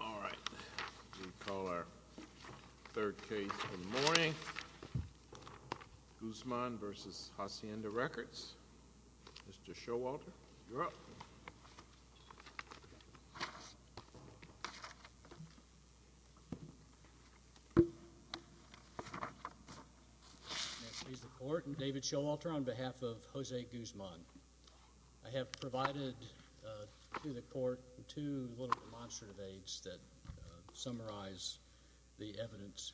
All right, we call our third case in the morning. Guzman v. Hacienda Records. Mr. Showalter, you're up. May it please the court, I'm David Showalter on behalf of Jose Guzman. I have provided to the court two little demonstrative aids that summarize the evidence.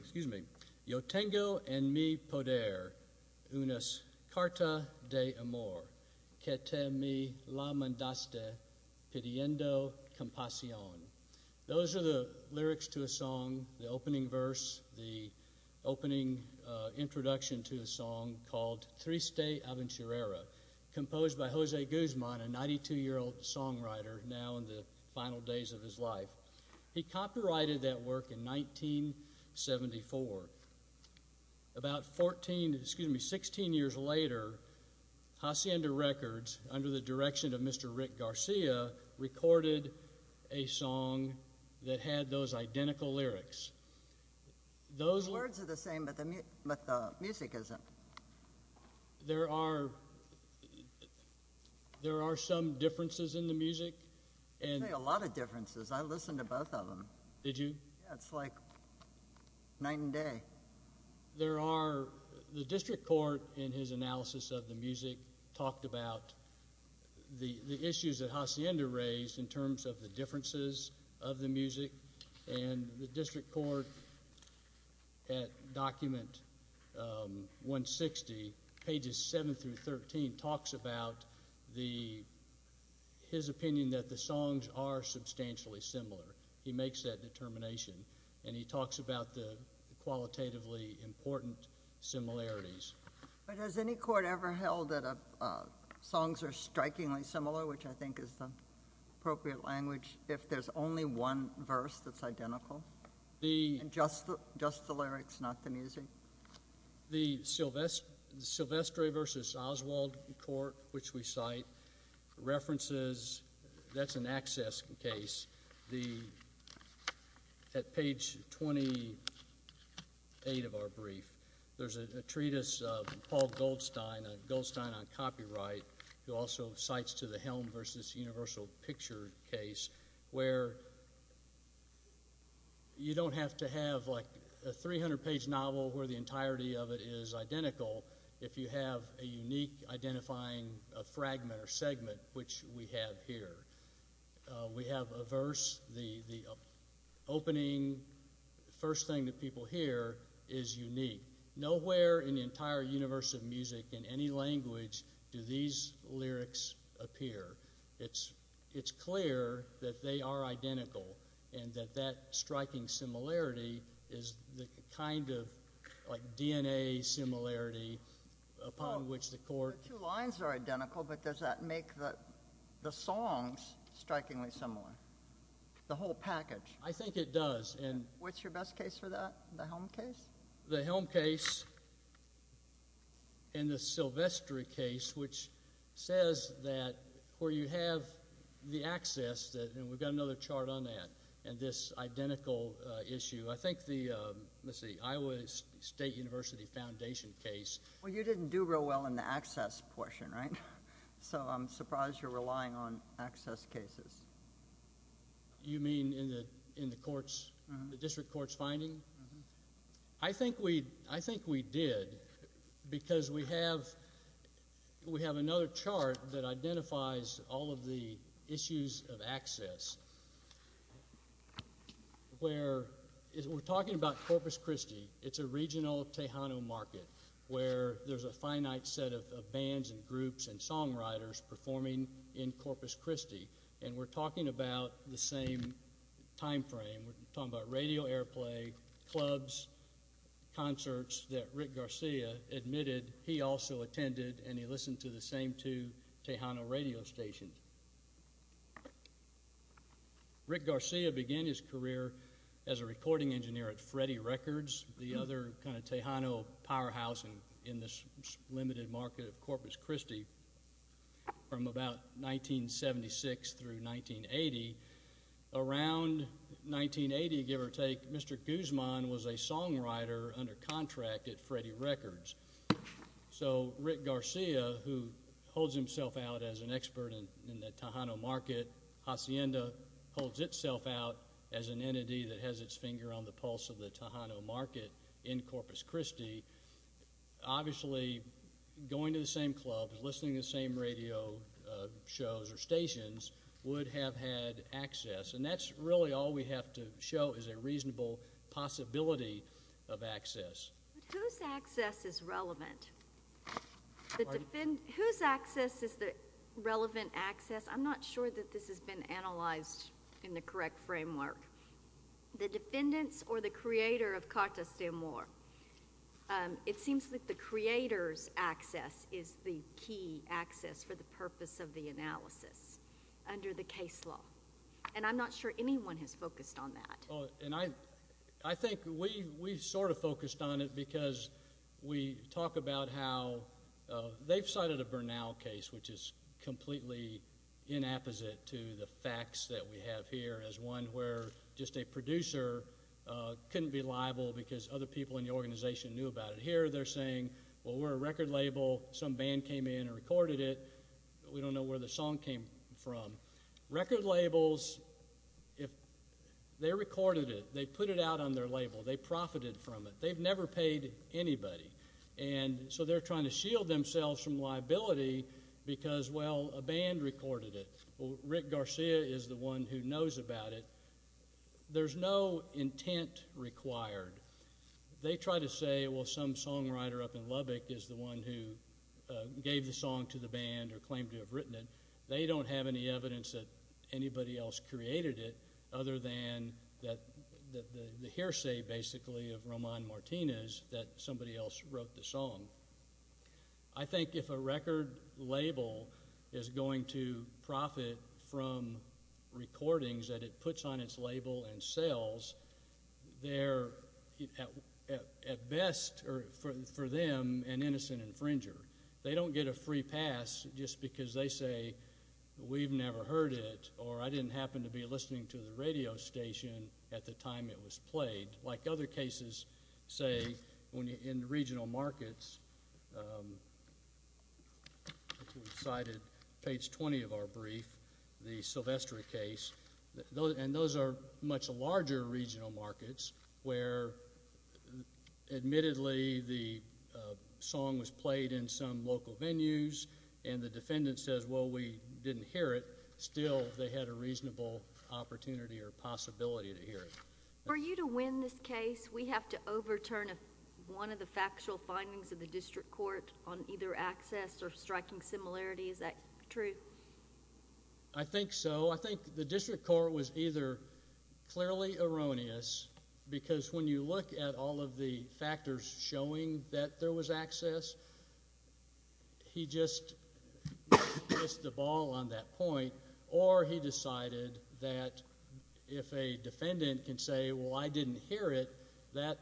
Excuse me. Yo tengo en mi poder una carta de amor que te me la mandaste pidiendo compasión. Those are the lyrics to a song, the opening verse, the opening introduction to a song called Triste Aventurera, composed by Jose Guzman, a 92-year-old songwriter now in the final days of his life. He copyrighted that work in 1974. About 14, excuse me, 16 years later, Hacienda Records, under the direction of Mr. Rick Garcia, recorded a song that had those identical lyrics. Those words are the same, but the music isn't. There are some differences in the music. There are a lot of differences. I listened to both of them. Did you? It's like one day. The district court, in his analysis of the music, talked about the issues that Hacienda raised in terms of the differences of the music. The district court, at document 160, pages 7 through 13, talks about his opinion that the songs are substantially similar. He makes that qualitatively important similarities. But has any court ever held that songs are strikingly similar, which I think is the appropriate language, if there's only one verse that's identical, and just the lyrics, not the music? The Silvestre v. Oswald court, which we cite, references, that's an access case. At page 28 of our brief, there's a treatise of Paul Goldstein, a Goldstein on copyright, who also cites to the Helm v. Universal Picture case, where you don't have to have a 300-page novel where the entirety of it is identical, if you have a unique identifying fragment or segment, which we have here. We have a verse, the opening first thing that people hear is unique. Nowhere in the entire universe of music, in any language, do these lyrics appear. It's clear that they are identical, and that that upon which the court... The two lines are identical, but does that make the songs strikingly similar, the whole package? I think it does. And what's your best case for that, the Helm case? The Helm case and the Silvestre case, which says that where you have the access, and we've got another chart on that, and this identical issue. I think the, let's see, Iowa State University Foundation case. Well, you didn't do real well in the access portion, right? So I'm surprised you're relying on access cases. You mean in the courts, the district courts finding? I think we did, because we have another chart that identifies all of the issues of access. We're talking about Corpus Christi. It's a regional Tejano market where there's a finite set of bands and groups and songwriters performing in Corpus Christi, and we're talking about the same time frame. We're talking about radio airplay, clubs, concerts that Rick Garcia admitted he also attended, and he listened to the same two Tejano radio stations. Rick Garcia began his career as a recording engineer at Freddie Records, the other kind of Tejano powerhouse in this limited market of Corpus Christi from about 1976 through 1980. Around 1980, give or take, Mr. Guzman was a songwriter under contract at in the Tejano market. Hacienda holds itself out as an entity that has its finger on the pulse of the Tejano market in Corpus Christi. Obviously, going to the same club and listening to the same radio shows or stations would have had access, and that's really all we have to show is a reasonable possibility of access. But whose access is relevant? Pardon? Whose access is the relevant access? I'm not sure that this has been analyzed in the correct framework. The defendants or the creator of Carta Sumor? It seems that the creator's access is the key access for the purpose of the analysis under the case law, and I'm not sure anyone has focused on that. And I think we've sort of focused on it because we talk about how they've cited a Bernal case, which is completely inapposite to the facts that we have here as one where just a producer couldn't be liable because other people in the organization knew about it. Here, they're saying, well, we're a record label. Some band came in and recorded it. We don't know where the song came from. Record labels, they recorded it. They put it out on their label. They profited from it. They've never paid anybody, and so they're trying to shield themselves from liability because, well, a band recorded it. Rick Garcia is the one who knows about it. There's no intent required. They try to say, well, some songwriter up in Lubbock is the one who gave the song to the band or claimed to have written it. They don't have any evidence that anybody else created it other than the hearsay, basically, of Roman Martinez that somebody else wrote the song. I think if a record label is going to profit from recordings that it puts on its label and sells, they're, at best for them, an innocent infringer. They don't get a free pass just because they say, we've never heard it or I didn't happen to be listening to the radio station at the time it was played. Like other cases, say, in regional markets, I think we cited page 20 of our brief, the Sylvester case, and those are much larger regional markets where, admittedly, the song was played in some local venues and the defendant says, well, we didn't hear it. Still, they had a reasonable opportunity or possibility to hear it. For you to win this case, we have to overturn one of the factual findings of the district court on either access or striking similarity. Is that true? I think so. I think the district court was either clearly erroneous because when you look at all of the factors showing that there was access, he just missed the ball on that point, or he decided that if a defendant can say, well, I didn't hear it, that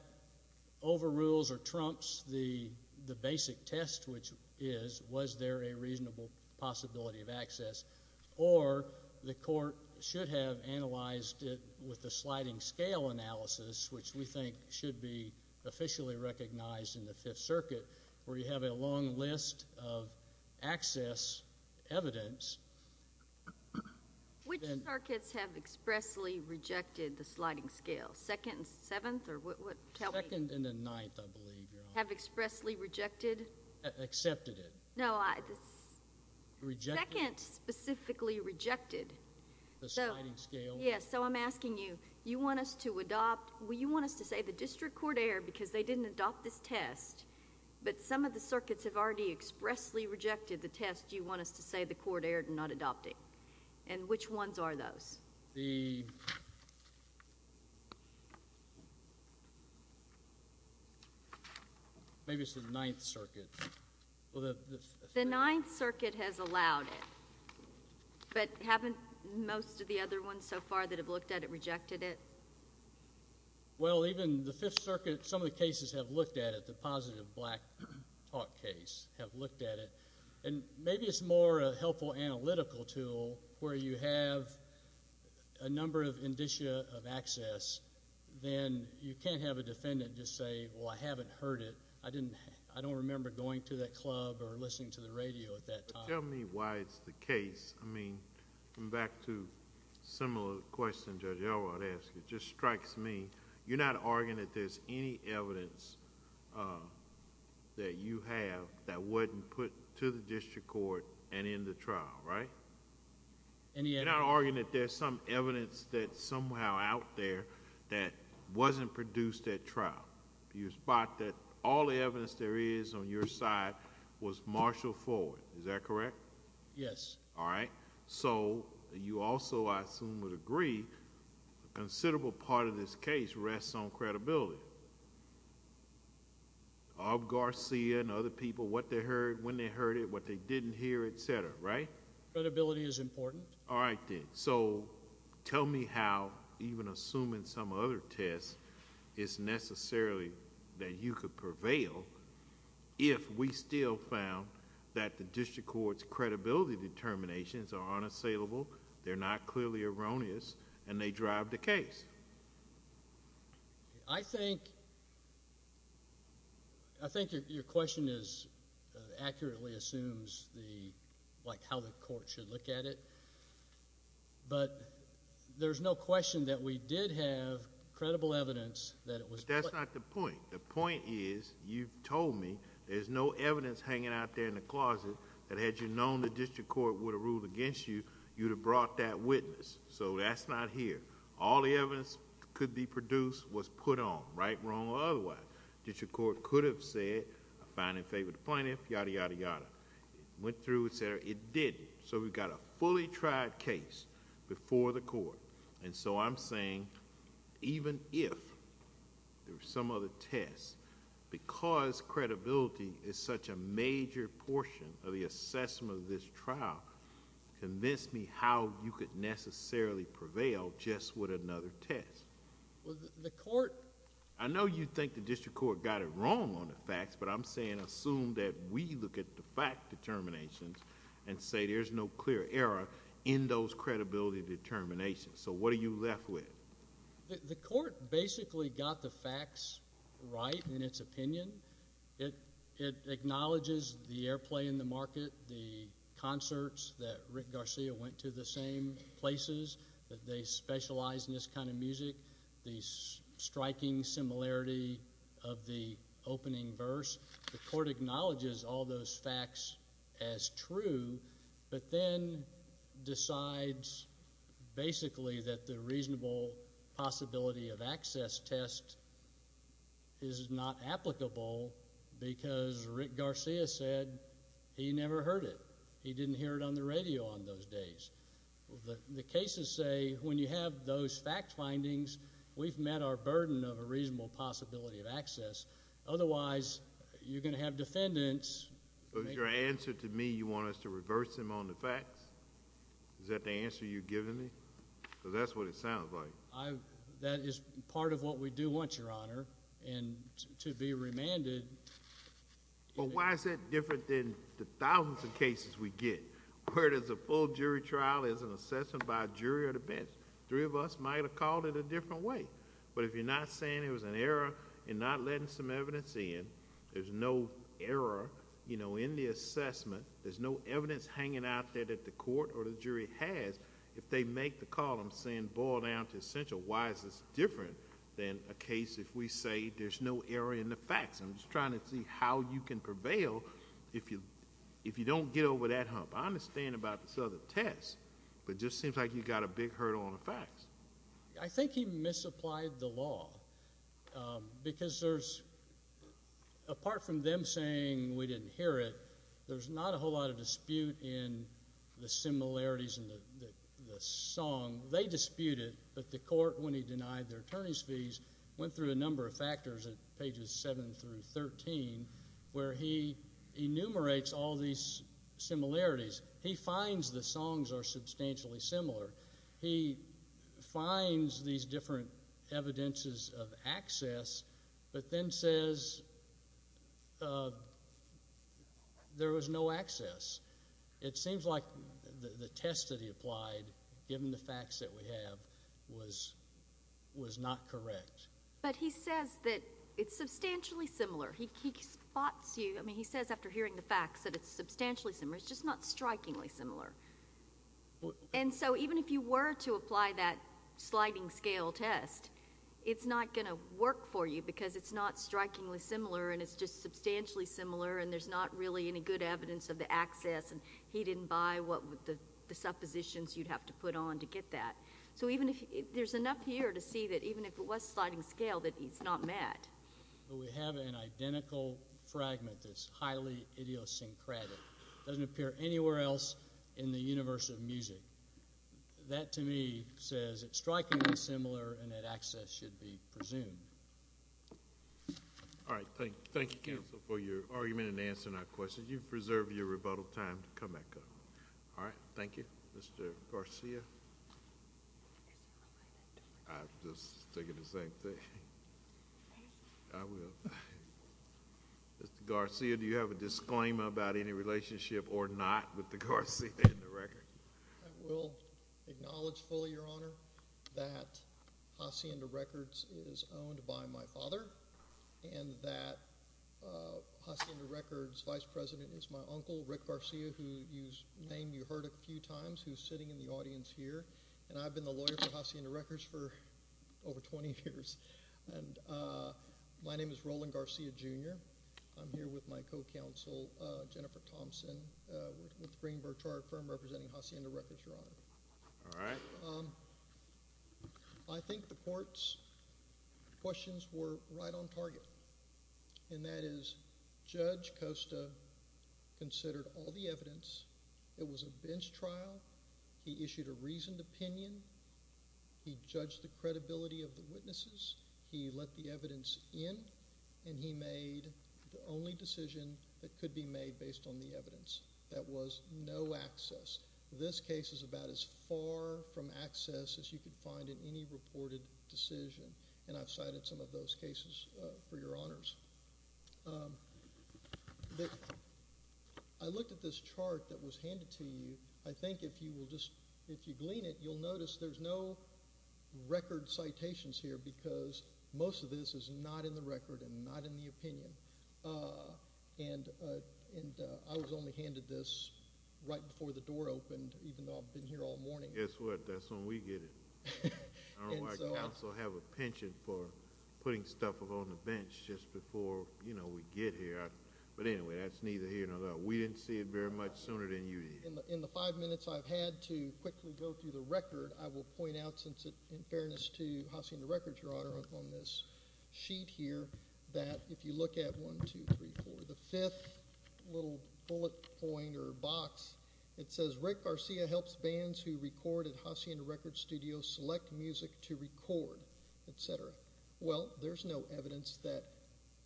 overrules or trumps the basic test, which is, was there a reasonable possibility of access, or the court should have analyzed it with the sliding scale analysis, which we think should be officially recognized in the Fifth Circuit, where you have a long list of access evidence. Which circuits have expressly rejected the sliding scale, Second and Seventh? Second and the Ninth, I believe. Have expressly rejected? Accepted it. No, Second specifically rejected. The sliding scale? Yes, so I'm asking you, you want us to adopt, you want us to say the district court erred because they didn't adopt this test, but some of the circuits have already expressly rejected the test, do you want us to say the court erred in not adopting? And which ones are those? Maybe it's the Ninth Circuit. The Ninth Circuit has allowed it, but haven't most of the other ones so far that have looked at it rejected it? Well, even the Fifth Circuit, some of the cases have looked at it, the positive black talk case have looked at it, and maybe it's more a helpful analytical tool where you have a number of indicia of access, then you can't have a defendant just say, well, I haven't heard it, I didn't, I don't remember going to that club or listening to the radio at that time. Tell me why it's the case. I mean, going back to a similar question Judge Elrod asked, it just strikes me, you're not arguing that there's any evidence that you have that wasn't put to the district court and in the trial, right? You're not arguing that there's some evidence that's somehow out there that wasn't produced at trial. You spot that all the evidence there is your side was marshaled forward. Is that correct? Yes. All right. So, you also, I assume, would agree a considerable part of this case rests on credibility. Of Garcia and other people, what they heard, when they heard it, what they didn't hear, etc., right? Credibility is important. All right, then. So, tell me how, even assuming some other test, it's necessarily that you could prevail if we still found that the district court's credibility determinations are unassailable, they're not clearly erroneous, and they drive the case. I think your question accurately assumes how the court should look at it, but there's no question that we did have credible evidence that it was. That's not the point. The point is, you've told me there's no evidence hanging out there in the closet that had you known the district court would have ruled against you, you'd have brought that witness. So, that's not here. All the evidence could be produced was put on, right, wrong, or otherwise. District court could have said, I find in favor of the plaintiff, yada, yada, yada. It went through, etc. It didn't. So, we've got a fully tried case before the court. So, I'm saying, even if there were some other tests, because credibility is such a major portion of the assessment of this trial, convince me how you could necessarily prevail just with another test. I know you think the district court got it right, but there's no clear error in those credibility determinations. So, what are you left with? The court basically got the facts right in its opinion. It acknowledges the airplay in the market, the concerts that Rick Garcia went to, the same places that they specialize in this kind of music, the striking similarity of the opening verse. The court acknowledges all those facts as true, but then decides, basically, that the reasonable possibility of access test is not applicable because Rick Garcia said he never heard it. He didn't hear it on the radio on those days. The cases say, when you have those fact findings, we've met our burden of a reasonable possibility of access. Otherwise, you're going to have defendants. So, your answer to me, you want us to reverse them on the facts? Is that the answer you're giving me? Because that's what it sounds like. That is part of what we do want, Your Honor, and to be remanded. But why is it different than the thousands of cases we get, where there's a full jury trial, there's an assessment by a jury or the bench? Three of us might have called it a different way, but if you're not saying there was an error in not letting some evidence in, there's no error in the assessment, there's no evidence hanging out there that the court or the jury has, if they make the column saying, boil down to essential, why is this different than a case if we say there's no error in the facts? I'm just trying to see how you can prevail if you don't get over that hump. I understand about this other test, but it just seems like you've got a big hurdle on the facts. I think he misapplied the law, because there's, apart from them saying we didn't hear it, there's not a whole lot of dispute in the similarities in the song. They disputed, but the court, when he denied their attorney's fees, went through a number of factors at pages 7 through 13, where he enumerates all these similarities. He finds the songs are substantially similar. He finds these different evidences of access, but then says there was no access. It seems like the test that he applied, given the facts that we have, was not correct. But he says that it's substantially similar. He spots you. He says after hearing the facts that it's substantially similar. It's just not strikingly similar. So even if you were to apply that sliding scale test, it's not going to work for you, because it's not strikingly similar, and it's just substantially similar, and there's not really any good evidence of the access. He didn't buy the suppositions you'd have to put on to get that. So there's enough here to see that even if it was sliding scale, that he's not mad. But we have an identical fragment that's highly idiosyncratic. It doesn't appear anywhere else in the universe of music. That, to me, says it's strikingly similar, and that access should be presumed. All right. Thank you, counsel, for your argument and answering our questions. You've reserved your rebuttal time to come back up. All right. Thank you. Mr. Garcia? I'm just thinking the same thing. I will. Mr. Garcia, do you have a disclaimer about any relationship or not with the Hacienda Records? I will acknowledge fully, Your Honor, that Hacienda Records is owned by my father, and that Hacienda Records' vice president is my uncle, Rick Garcia, whose name you heard a few times, who's sitting in the audience here. And I've been the lawyer for Hacienda Records for over 20 years. And my name is Roland Garcia, Jr. I'm here with my co-counsel, Jennifer Thompson, with the Greenberg Chartered Firm representing Hacienda Records, Your Honor. All right. I think the court's questions were right on target, and that is Judge Costa considered all the evidence. It was a bench trial. He issued a reasoned opinion. He judged the credibility of the witnesses. He let the evidence in, and he made the only decision that could be made based on the evidence. That was no access. This case is about as far from access as you could find in any reported decision, and I've cited some of those cases for Your Honors. I looked at this chart that was handed to you. I think if you glean it, you'll notice there's no record citations here because most of this is not in the record and not in the opinion. And I was only handed this right before the door opened, even though I've been here all morning. Guess what? That's when we get it. Our counsel have a pension for putting stuff on the bench just before we get here. But anyway, that's neither here nor there. We didn't see it very much sooner than you did. In the five minutes I've had to quickly go through the record, I will point out, in fairness to Hacienda Records, Your Honor, on this sheet here that if you look at 1, 2, 3, 4, the fifth little bullet point or box, it says, Rick Garcia helps bands who record at Hacienda Records Studios select music to record, etc. Well, there's no evidence that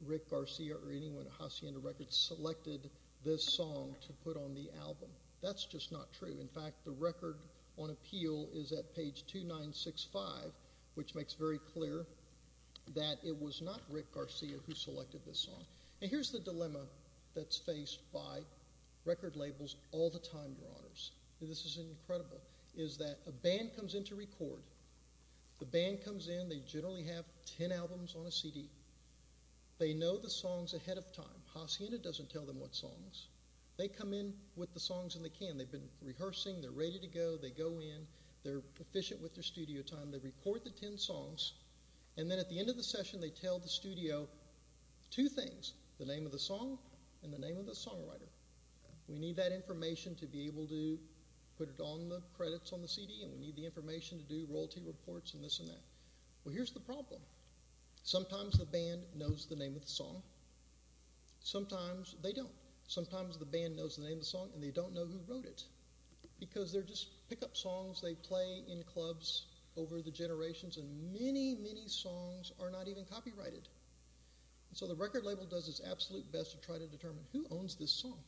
Rick Garcia or anyone at Hacienda Records selected this song to put on the album. That's just not true. In fact, the record on appeal is at page 2965, which makes very clear that it was not Rick Garcia who selected this song. And here's the dilemma that's faced by record labels all the time, Your Honors. This is incredible, is that a band comes in to record. The band comes in, they generally have 10 albums on a CD. They know the songs ahead of time. Hacienda doesn't tell them what songs. They come in with the songs and they can. They've been rehearsing, they're ready to go, they go in, they're efficient with their studio time, they record the 10 songs, and then at the end of the session they tell the studio two things, the name of the song and the name of the songwriter. We need that information to be able to put it on the credits on the CD, and we need the information to do royalty reports and this and that. Well, here's the problem. Sometimes the band knows the name of the song. Sometimes they don't. Sometimes the band knows the name of the song and they don't know who wrote it, because they just pick up songs, they play in clubs over the generations, and many, many songs are not even copyrighted. So the record label does its absolute best to try to determine who owns this song.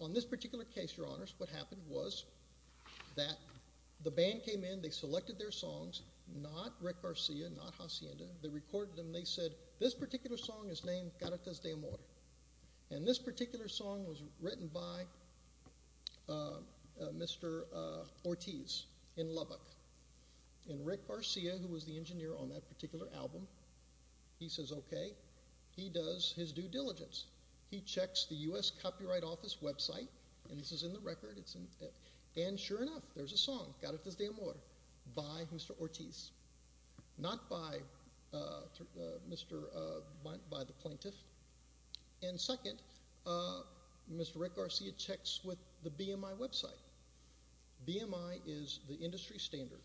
On this particular case, your honors, what happened was that the band came in, they selected their songs, not Rick Garcia, not Hacienda, they recorded them, they said, this particular song is named Caracas de Amor, and this particular song was written by Mr. Ortiz in Lubbock, and Rick Garcia, who was the engineer on that particular album, he says, okay, he does his due diligence. He checks the U.S. Copyright Office website, and this is in the record, and sure enough, there's a song, Caracas de Amor, by Mr. Ortiz, not by the plaintiff, and second, Mr. Rick Garcia checks with the BMI website. BMI is the industry standard.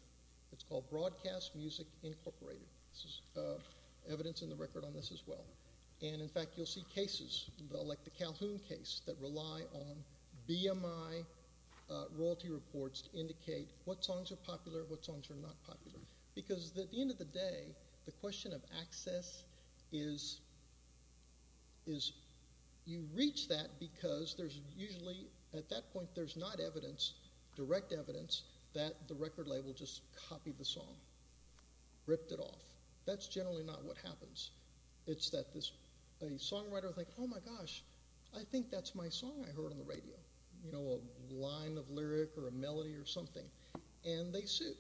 It's called Broadcast Music Incorporated. This is evidence in the record on this as well, and in fact, you'll see cases, like the Calhoun case, that rely on this. At the end of the day, the question of access is you reach that because there's usually, at that point, there's not evidence, direct evidence, that the record label just copied the song, ripped it off. That's generally not what happens. It's that a songwriter thinks, oh my gosh, I think that's my song I heard on the radio, a line of lyric or a melody or something, and they sue,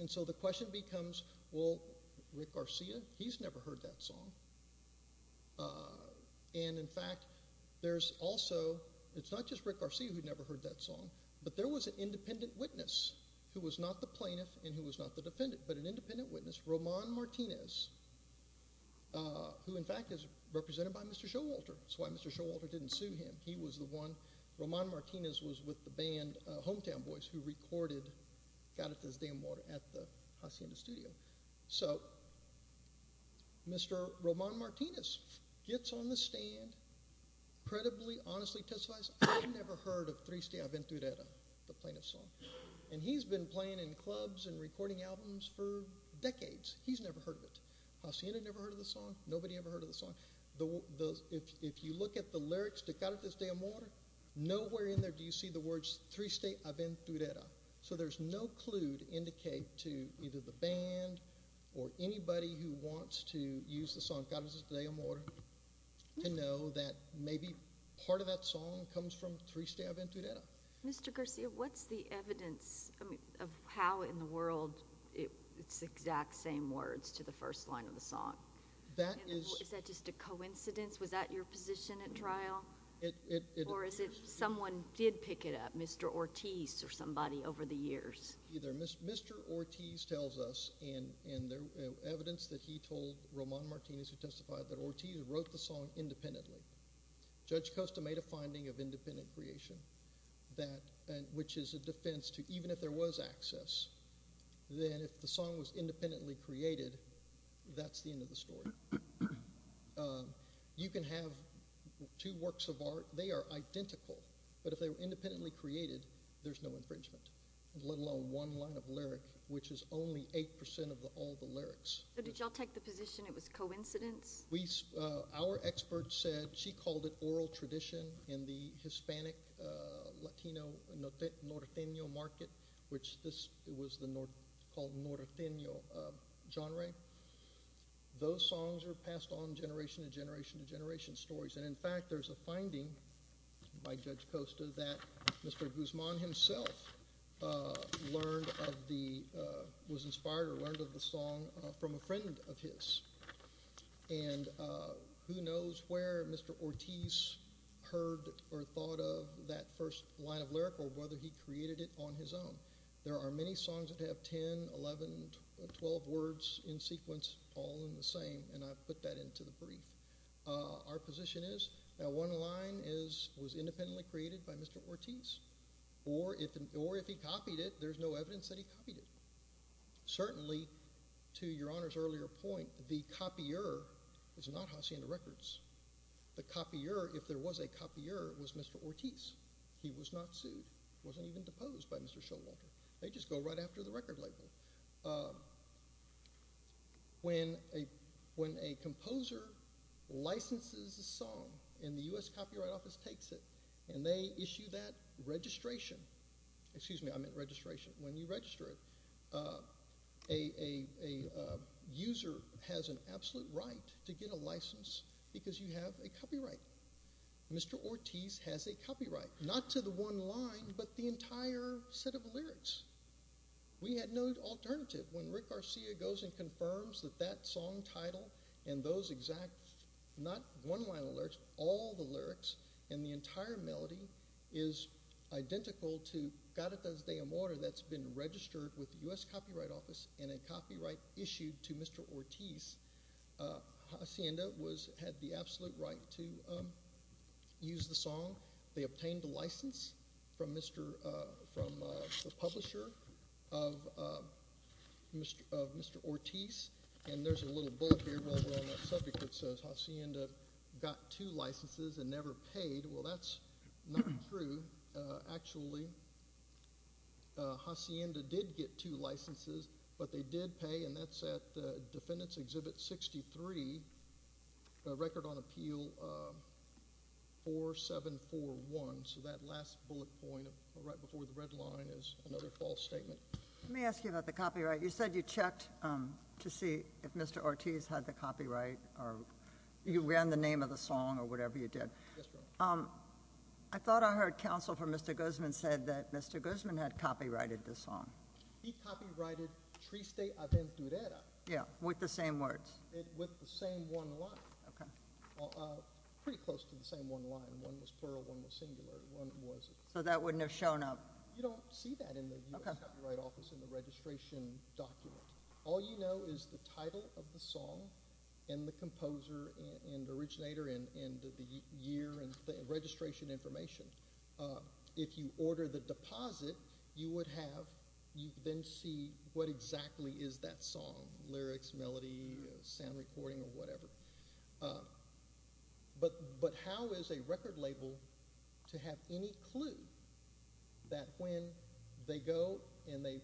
and so the question becomes, well, Rick Garcia, he's never heard that song, and in fact, there's also, it's not just Rick Garcia who never heard that song, but there was an independent witness who was not the plaintiff and who was not the defendant, but an independent witness, Roman Martinez, who in fact is represented by Mr. Showalter. That's why Mr. Showalter didn't sue him. He was the one, Roman Martinez was with the band Hometown Boys, who recorded Caritas de Amor at the Hacienda studio, so Mr. Roman Martinez gets on the stand, credibly, honestly testifies, I've never heard of Triste Aventurera, the plaintiff's song, and he's been playing in clubs and recording albums for decades. He's never heard of it. Hacienda never heard of the song. Nobody ever heard of the song. If you look at the lyrics to Caritas de Amor, nowhere in there do you see the words Triste Aventurera, so there's no clue to indicate to either the band or anybody who wants to use the song Caritas de Amor to know that maybe part of that song comes from Triste Aventurera. Mr. Garcia, what's the evidence of how in the world it's exact same words to the first line of the song? Is that just a coincidence? Was that your position at trial, or is it someone did pick it up, Mr. Ortiz or somebody over the years? Either Mr. Ortiz tells us, and there's evidence that he told Roman Martinez who testified that Ortiz wrote the song independently. Judge Costa made a finding of independent creation, which is a defense to even if there was access, then if the song was independently created, that's the end of the story. You can have two works of art, they are identical, but if they were independently created, there's no infringement, let alone one line of lyric, which is only eight percent of all the lyrics. Did y'all take the position it was coincidence? Our expert said she called it oral tradition in the Hispanic, Latino, Norteño market, which it was called the Norteño genre. Those songs are passed on generation to generation to generation stories, and in fact, there's a finding by Judge Costa that Mr. Guzman himself was inspired or learned of the song from a friend of his, and who knows where Mr. Ortiz heard or thought of that first line of lyric or whether he created it on his own. There are many songs that have 10, 11, 12 words in sequence, all in the same, and I put that into the brief. Our position is that one line was independently created by Mr. Ortiz, or if he copied it, there's no evidence that he copied it. Certainly, to Your Honor's earlier point, the copier is not Hacienda Records. The copier, if there was a copier, was Mr. Ortiz. He was not sued. He wasn't even deposed by Mr. Showalter. They just go right after the record label. When a composer licenses a song and the U.S. Copyright Office takes it and they issue that registration, excuse me, I meant registration, when you register it, a user has an absolute right to get a license because you have a copyright. Mr. Ortiz has a copyright, not to the one line, but the entire set of lyrics. We had no alternative. When Rick Garcia goes and confirms that that song title and those exact, not one line of lyrics, all the lyrics and the entire melody is identical to Garitas de Amor that's been registered with the U.S. Copyright Office and a copyright issued to Mr. Ortiz, Hacienda had the absolute right to use the song. They obtained a license from the publisher of Mr. Ortiz, and there's a little bullet here that says Hacienda got two licenses and never paid. Well, that's not true. Actually, Hacienda did get two licenses, but they did pay, and that's at the Defendant's Exhibit 63, the Record on Appeal 4741. So that last bullet point right before the red line is another false statement. Let me ask you about the copyright. You said you checked to see if Mr. Ortiz had copyright, or you ran the name of the song, or whatever you did. I thought I heard Counsel for Mr. Guzman said that Mr. Guzman had copyrighted the song. He copyrighted Triste Aventurera. Yeah, with the same words. With the same one line. Pretty close to the same one line. One was plural, one was singular. So that wouldn't have shown up? You don't see that in the U.S. title of the song, and the composer, and originator, and the year, and the registration information. If you order the deposit, you would have, you then see what exactly is that song, lyrics, melody, sound recording, or whatever. But how is a record label to have any clue that when they go, and they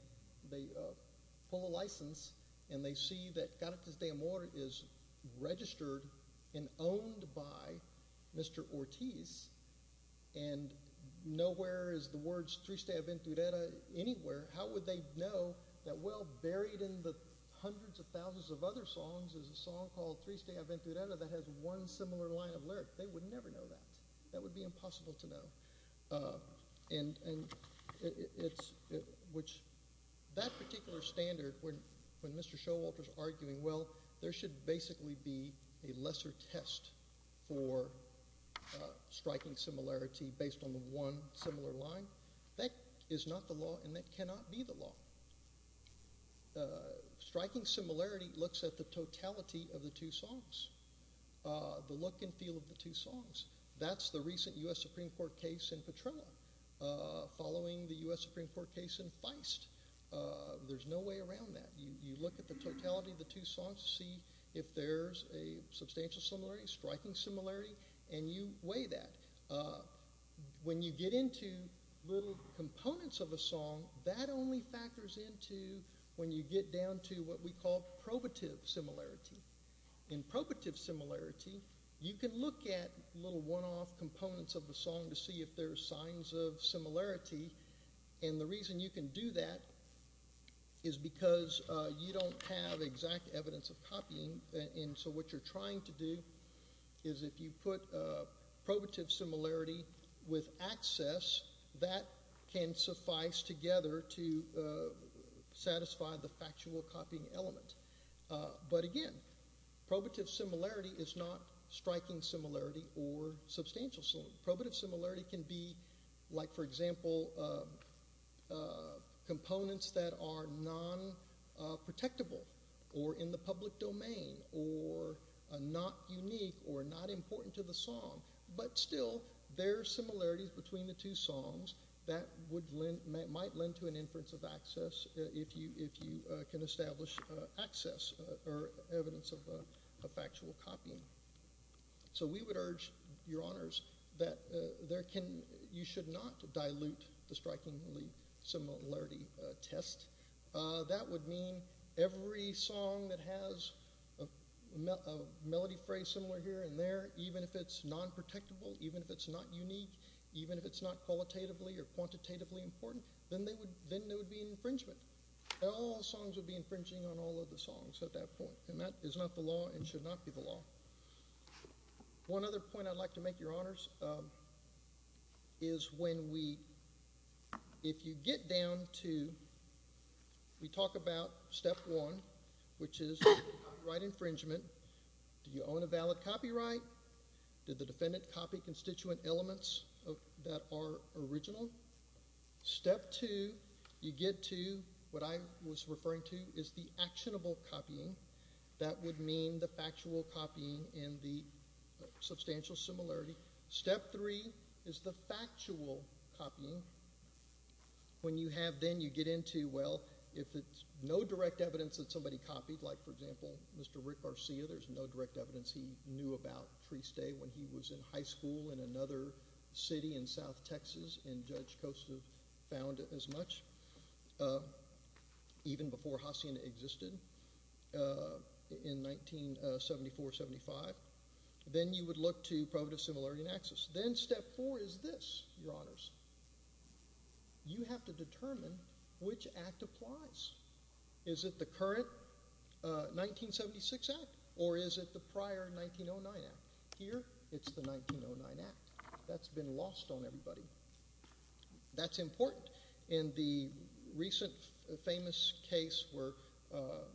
pull a license, and they see that Caritas de Amor is registered and owned by Mr. Ortiz, and nowhere is the words Triste Aventurera anywhere, how would they know that well buried in the hundreds of thousands of other songs is a song called Triste Aventurera that has one similar line of lyric? They would never know that. That would be impossible to know. And it's, which, that particular standard, when Mr. Showalter is arguing, well, there should basically be a lesser test for striking similarity based on the one similar line. That is not the law, and that cannot be the law. Striking similarity looks at the totality of the two songs. The look and feel of the two songs. That's the recent U.S. Supreme Court case in Petrella, following the U.S. Supreme Court case in Feist. There's no way around that. You look at the totality of the two songs to see if there's a substantial similarity, striking similarity, and you weigh that. When you get into little components of a song, that only factors into when you get down to what we call probative similarity. In probative similarity, you can look at little one-off components of the song to see if there's signs of similarity, and the reason you can do that is because you don't have exact evidence of copying, and so what you're trying to factual copying element. But again, probative similarity is not striking similarity or substantial similarity. Probative similarity can be like, for example, components that are non-protectable or in the public domain or not unique or not important to the song, but still, there are similarities between the two songs that might lend to an inference of access if you can establish access or evidence of a factual copying. So we would urge, Your Honors, that you should not dilute the strikingly similarity test. That would mean every song that has a melody phrase similar here and there, even if it's non-protectable, even if it's not unique, even if it's not qualitatively or quantitatively important, then there would be an infringement. All songs would be infringing on all of the songs at that point, and that is not the law and should not be the law. One other point I'd like to make, Your Honors, is when we, if you get down to, we talk about step one, which is copyright infringement. Do you own a valid copyright? Did the defendant copy constituent elements that are original? Step two, you get to what I was referring to is the actionable copying. That would mean the factual copying and the substantial similarity. Step three is the factual copying. When you have then, you get into, well, if it's no direct evidence that somebody copied, like for example, Mr. Rick Garcia, there's no direct evidence he knew about Free Stay when he was in high school in another city in South Texas, and Judge Kostov found as much, even before Hacienda existed in 1974-75. Then you would look to probative similarity and access. Then step four is this, Your Honors. You have to determine which act applies. Is it the current 1976 Act, or is it the prior 1909 Act? Here, it's the 1909 Act. That's been lost on everybody. That's important. In the recent famous case where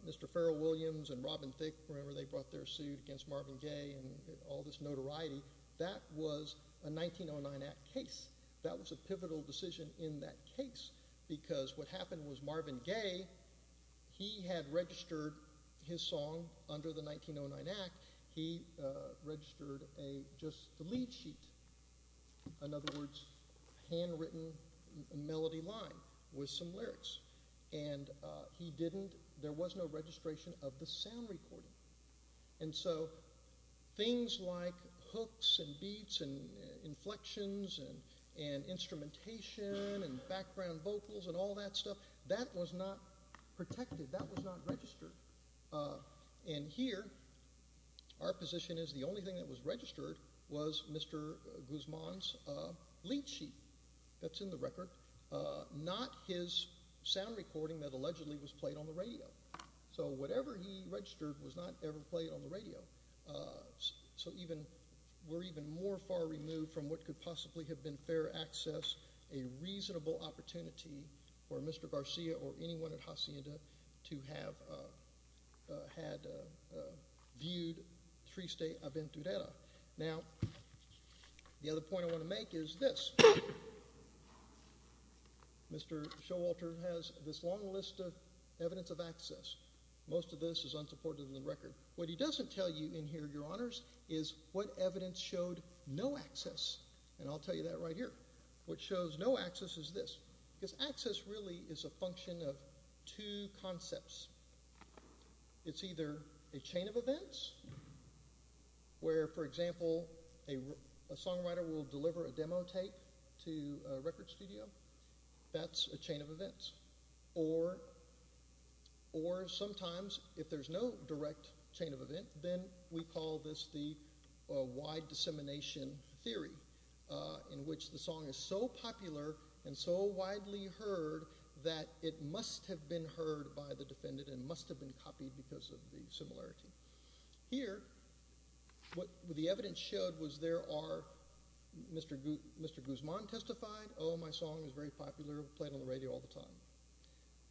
Mr. Farrell Williams and Robin Thicke, remember they brought their suit against Marvin Gaye and all this notoriety, that was a 1909 Act case. That was a pivotal decision in that case because what happened was Marvin Gaye, he had registered his song under the 1909 Act. He registered just the lead sheet, in other words, handwritten melody line with some lyrics. There was no registration of the sound recording. Things like hooks and beats and inflections and instrumentation and background vocals and all that stuff, that was not protected. That was not registered. Here, our position is the only thing that was registered was Mr. Guzman's lead sheet that's in the record, not his sound recording that allegedly was played on the radio. Whatever he registered was not ever played on the radio. We're even more far removed from what could possibly have been fair access, a reasonable opportunity for Mr. Garcia or anyone at Hacienda to have had viewed Triste Aventurera. Now, the other point I want to make is this. Mr. Showalter has this long list of evidence of access. Most of this is unsupported in the record. What he doesn't tell you in here, your honors, is what evidence showed no access. I'll tell you right here. What shows no access is this. Access really is a function of two concepts. It's either a chain of events where, for example, a songwriter will deliver a demo tape to a record studio. That's a chain of events. Or sometimes if there's no direct chain of event, then we call this the wide dissemination theory, in which the song is so popular and so widely heard that it must have been heard by the defendant and must have been copied because of the similarity. Here, what the evidence showed was there are Mr. Guzman testified, oh, my song is very popular, played on the radio all the time.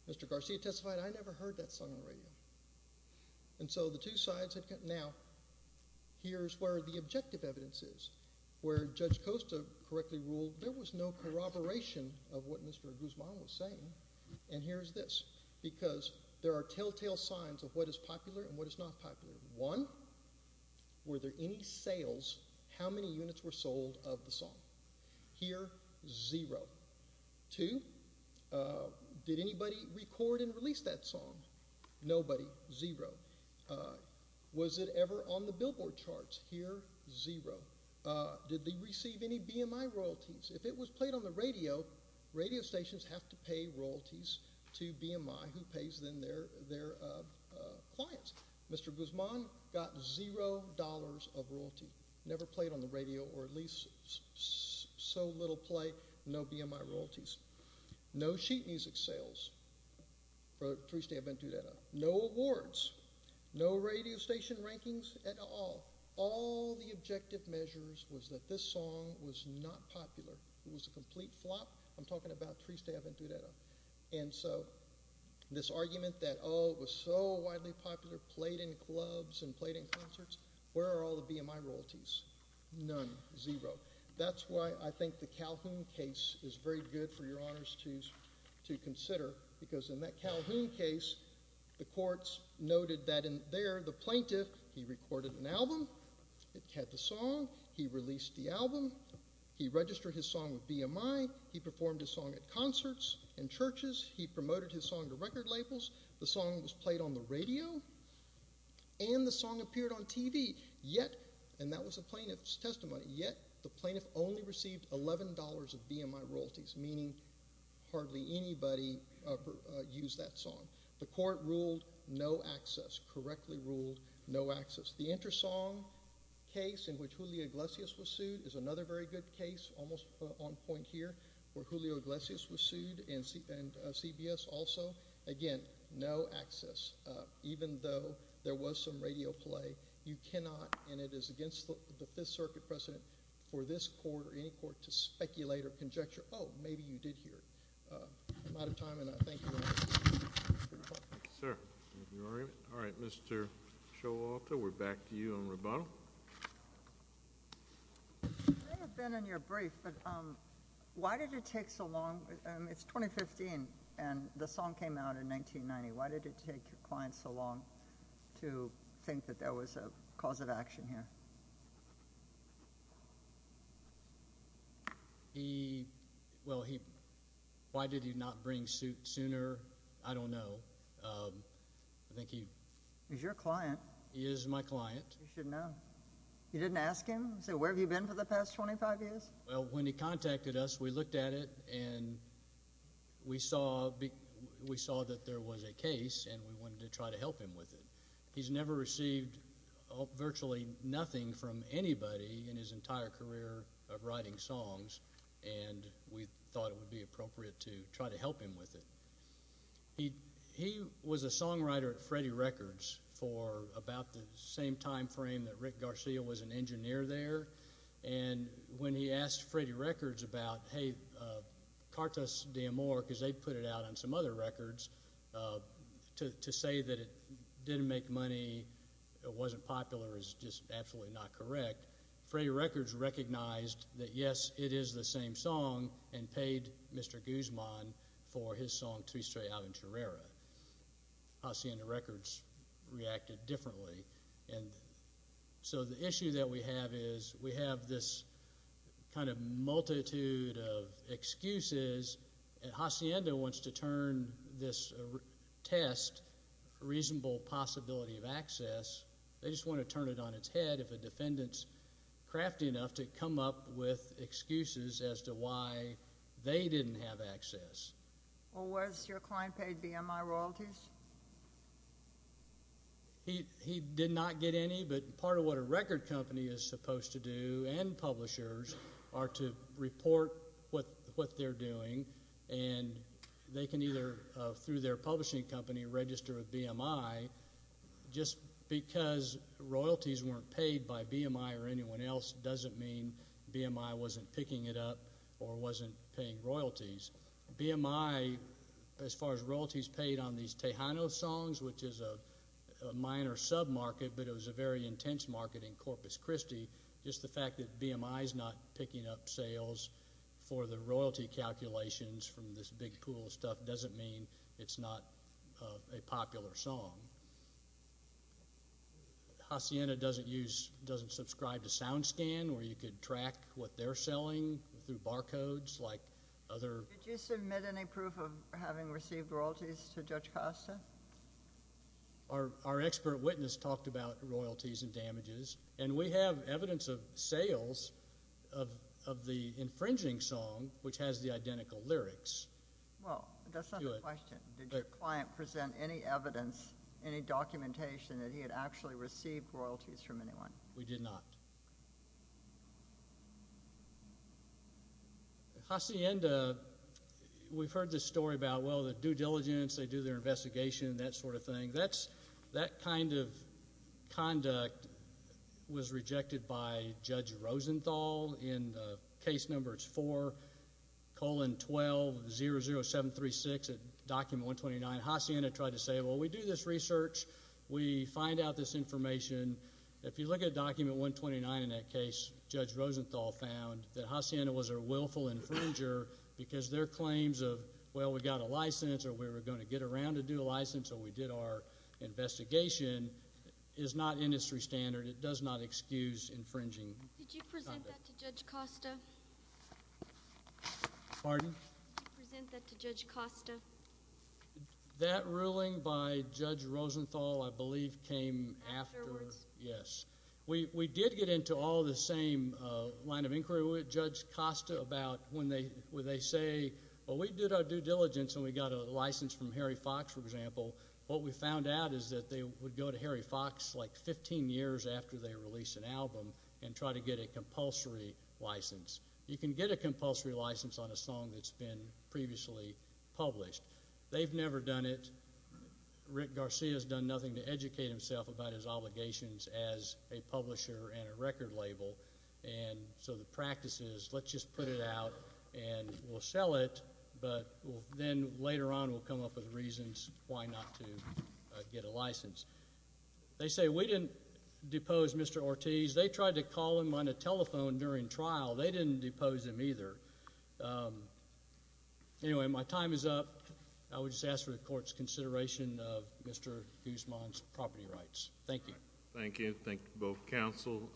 Mr. Garcia testified, I never heard that song on the radio. Now, here's where the objective evidence is, where Judge Costa correctly ruled there was no corroboration of what Mr. Guzman was saying, and here's this, because there are telltale signs of what is popular and what is not popular. One, were there any sales, how many units were sold of the song? Here, zero. Two, did anybody record and release that song? Nobody. Zero. Was it ever on the billboard charts? Here, zero. Did they receive any BMI royalties? If it was played on the radio, radio stations have to pay royalties to BMI, who pays then their clients. Mr. Guzman got zero dollars of royalty, never played on the radio, or at least so little play, no BMI royalties. No sheet music sales for Triste Aventurera. No awards. No radio station rankings at all. All the objective measures was that this song was not popular. It was a complete flop. I'm talking about Triste Aventurera, and so this argument that, oh, it was so widely popular, played in clubs and played in concerts, where are all the BMI royalties? None. Zero. That's why I think the Calhoun case is very good for your honors to consider, because in that Calhoun case, the courts noted that in there, the plaintiff, he recorded an album, it had the song, he released the album, he registered his song with BMI, he performed his song at concerts and churches, he promoted his song to record yet, and that was the plaintiff's testimony, yet the plaintiff only received $11 of BMI royalties, meaning hardly anybody used that song. The court ruled no access, correctly ruled no access. The Intersong case, in which Julio Iglesias was sued, is another very good case, almost on point here, where Julio Iglesias was sued, and CBS also. Again, no access. Even though there was some radio play, you cannot, and it is against the Fifth Circuit precedent, for this court or any court to speculate or conjecture, oh, maybe you did hear it. I'm out of time, and I thank you very much. Sir. All right, Mr. Showalter, we're back to you on rebuttal. It may have been in your brief, but why did it take so long? It's 2015, and the song came out in 1990. Why did it take your client so long to think that there was a cause of action here? He, well, he, why did he not bring suit sooner? I don't know. I think he. He's your client. He is my client. You should know. You didn't ask him? Say, where have you been for the past 25 years? Well, when he contacted us, we looked at it, and we saw that there was a case, and we wanted to try to help him with it. He's never received virtually nothing from anybody in his entire career of writing songs, and we thought it would be appropriate to try to help him with it. He was a songwriter at Freddie Records for about the same time frame that Rick Garcia was an engineer there, and when he asked Freddie Records about, hey, Cartas de Amor, because they put it out on some other records, to say that it didn't make money, it wasn't popular, is just absolutely not correct. Freddie Records recognized that, yes, it is the same song, and paid Mr. Guzman for his song to be straight out in Charrera. Hacienda Records reacted differently, and so the issue that we have is we have this kind of multitude of excuses, and Hacienda wants to turn this test, reasonable possibility of access, they just want to turn it on its head if a defendant's crafty enough to come up with excuses as to why they didn't have access. Or was your client paid BMI royalties? He did not get any, but part of what a record company is supposed to do and publishers are to report what they're doing, and they can either, through their publishing company, register a BMI. Just because royalties weren't paid by BMI or anyone else doesn't mean BMI wasn't picking it up or wasn't paying royalties. BMI, as far as royalties paid on these Tejano songs, which is a minor sub-market, but it was a very intense market in Corpus Christi, just the fact that BMI is not picking up sales for the royalty calculations from this big pool of stuff doesn't mean it's not a popular song. Hacienda doesn't use, doesn't subscribe to SoundScan where you could track what they're selling through barcodes like other... Did you submit any proof of having received royalties to Judge Costa? Our expert witness talked about royalties and damages, and we have evidence of sales of the infringing song which has the identical lyrics. Well, that's not the evidence. Did your client present any evidence, any documentation that he had actually received royalties from anyone? We did not. Hacienda, we've heard this story about, well, the due diligence, they do their investigation, that sort of thing. That kind of conduct was rejected by Judge Costa. Hacienda tried to say, well, we do this research, we find out this information. If you look at Document 129 in that case, Judge Rosenthal found that Hacienda was a willful infringer because their claims of, well, we got a license, or we were going to get around to do a license, or we did our investigation, is not industry standard. It does not excuse infringing. Did you present that to Judge Costa? Pardon? Did you present that to Judge Costa? That ruling by Judge Rosenthal, I believe, came after, yes. We did get into all the same line of inquiry with Judge Costa about when they say, well, we did our due diligence, and we got a license from Harry Fox, for example. What we found out is that they would go to Harry Fox like 15 years after they release an album and try to get a compulsory license on a song that's been previously published. They've never done it. Rick Garcia's done nothing to educate himself about his obligations as a publisher and a record label, and so the practice is, let's just put it out, and we'll sell it, but then later on, we'll come up with reasons why not to get a license. They say, we didn't depose Mr. Ortiz. They tried to call him on a telephone during trial. They didn't depose him either. Anyway, my time is up. I would just ask for the court's consideration of Mr. Guzman's property rights. Thank you. Thank you. Thank you, both counsel.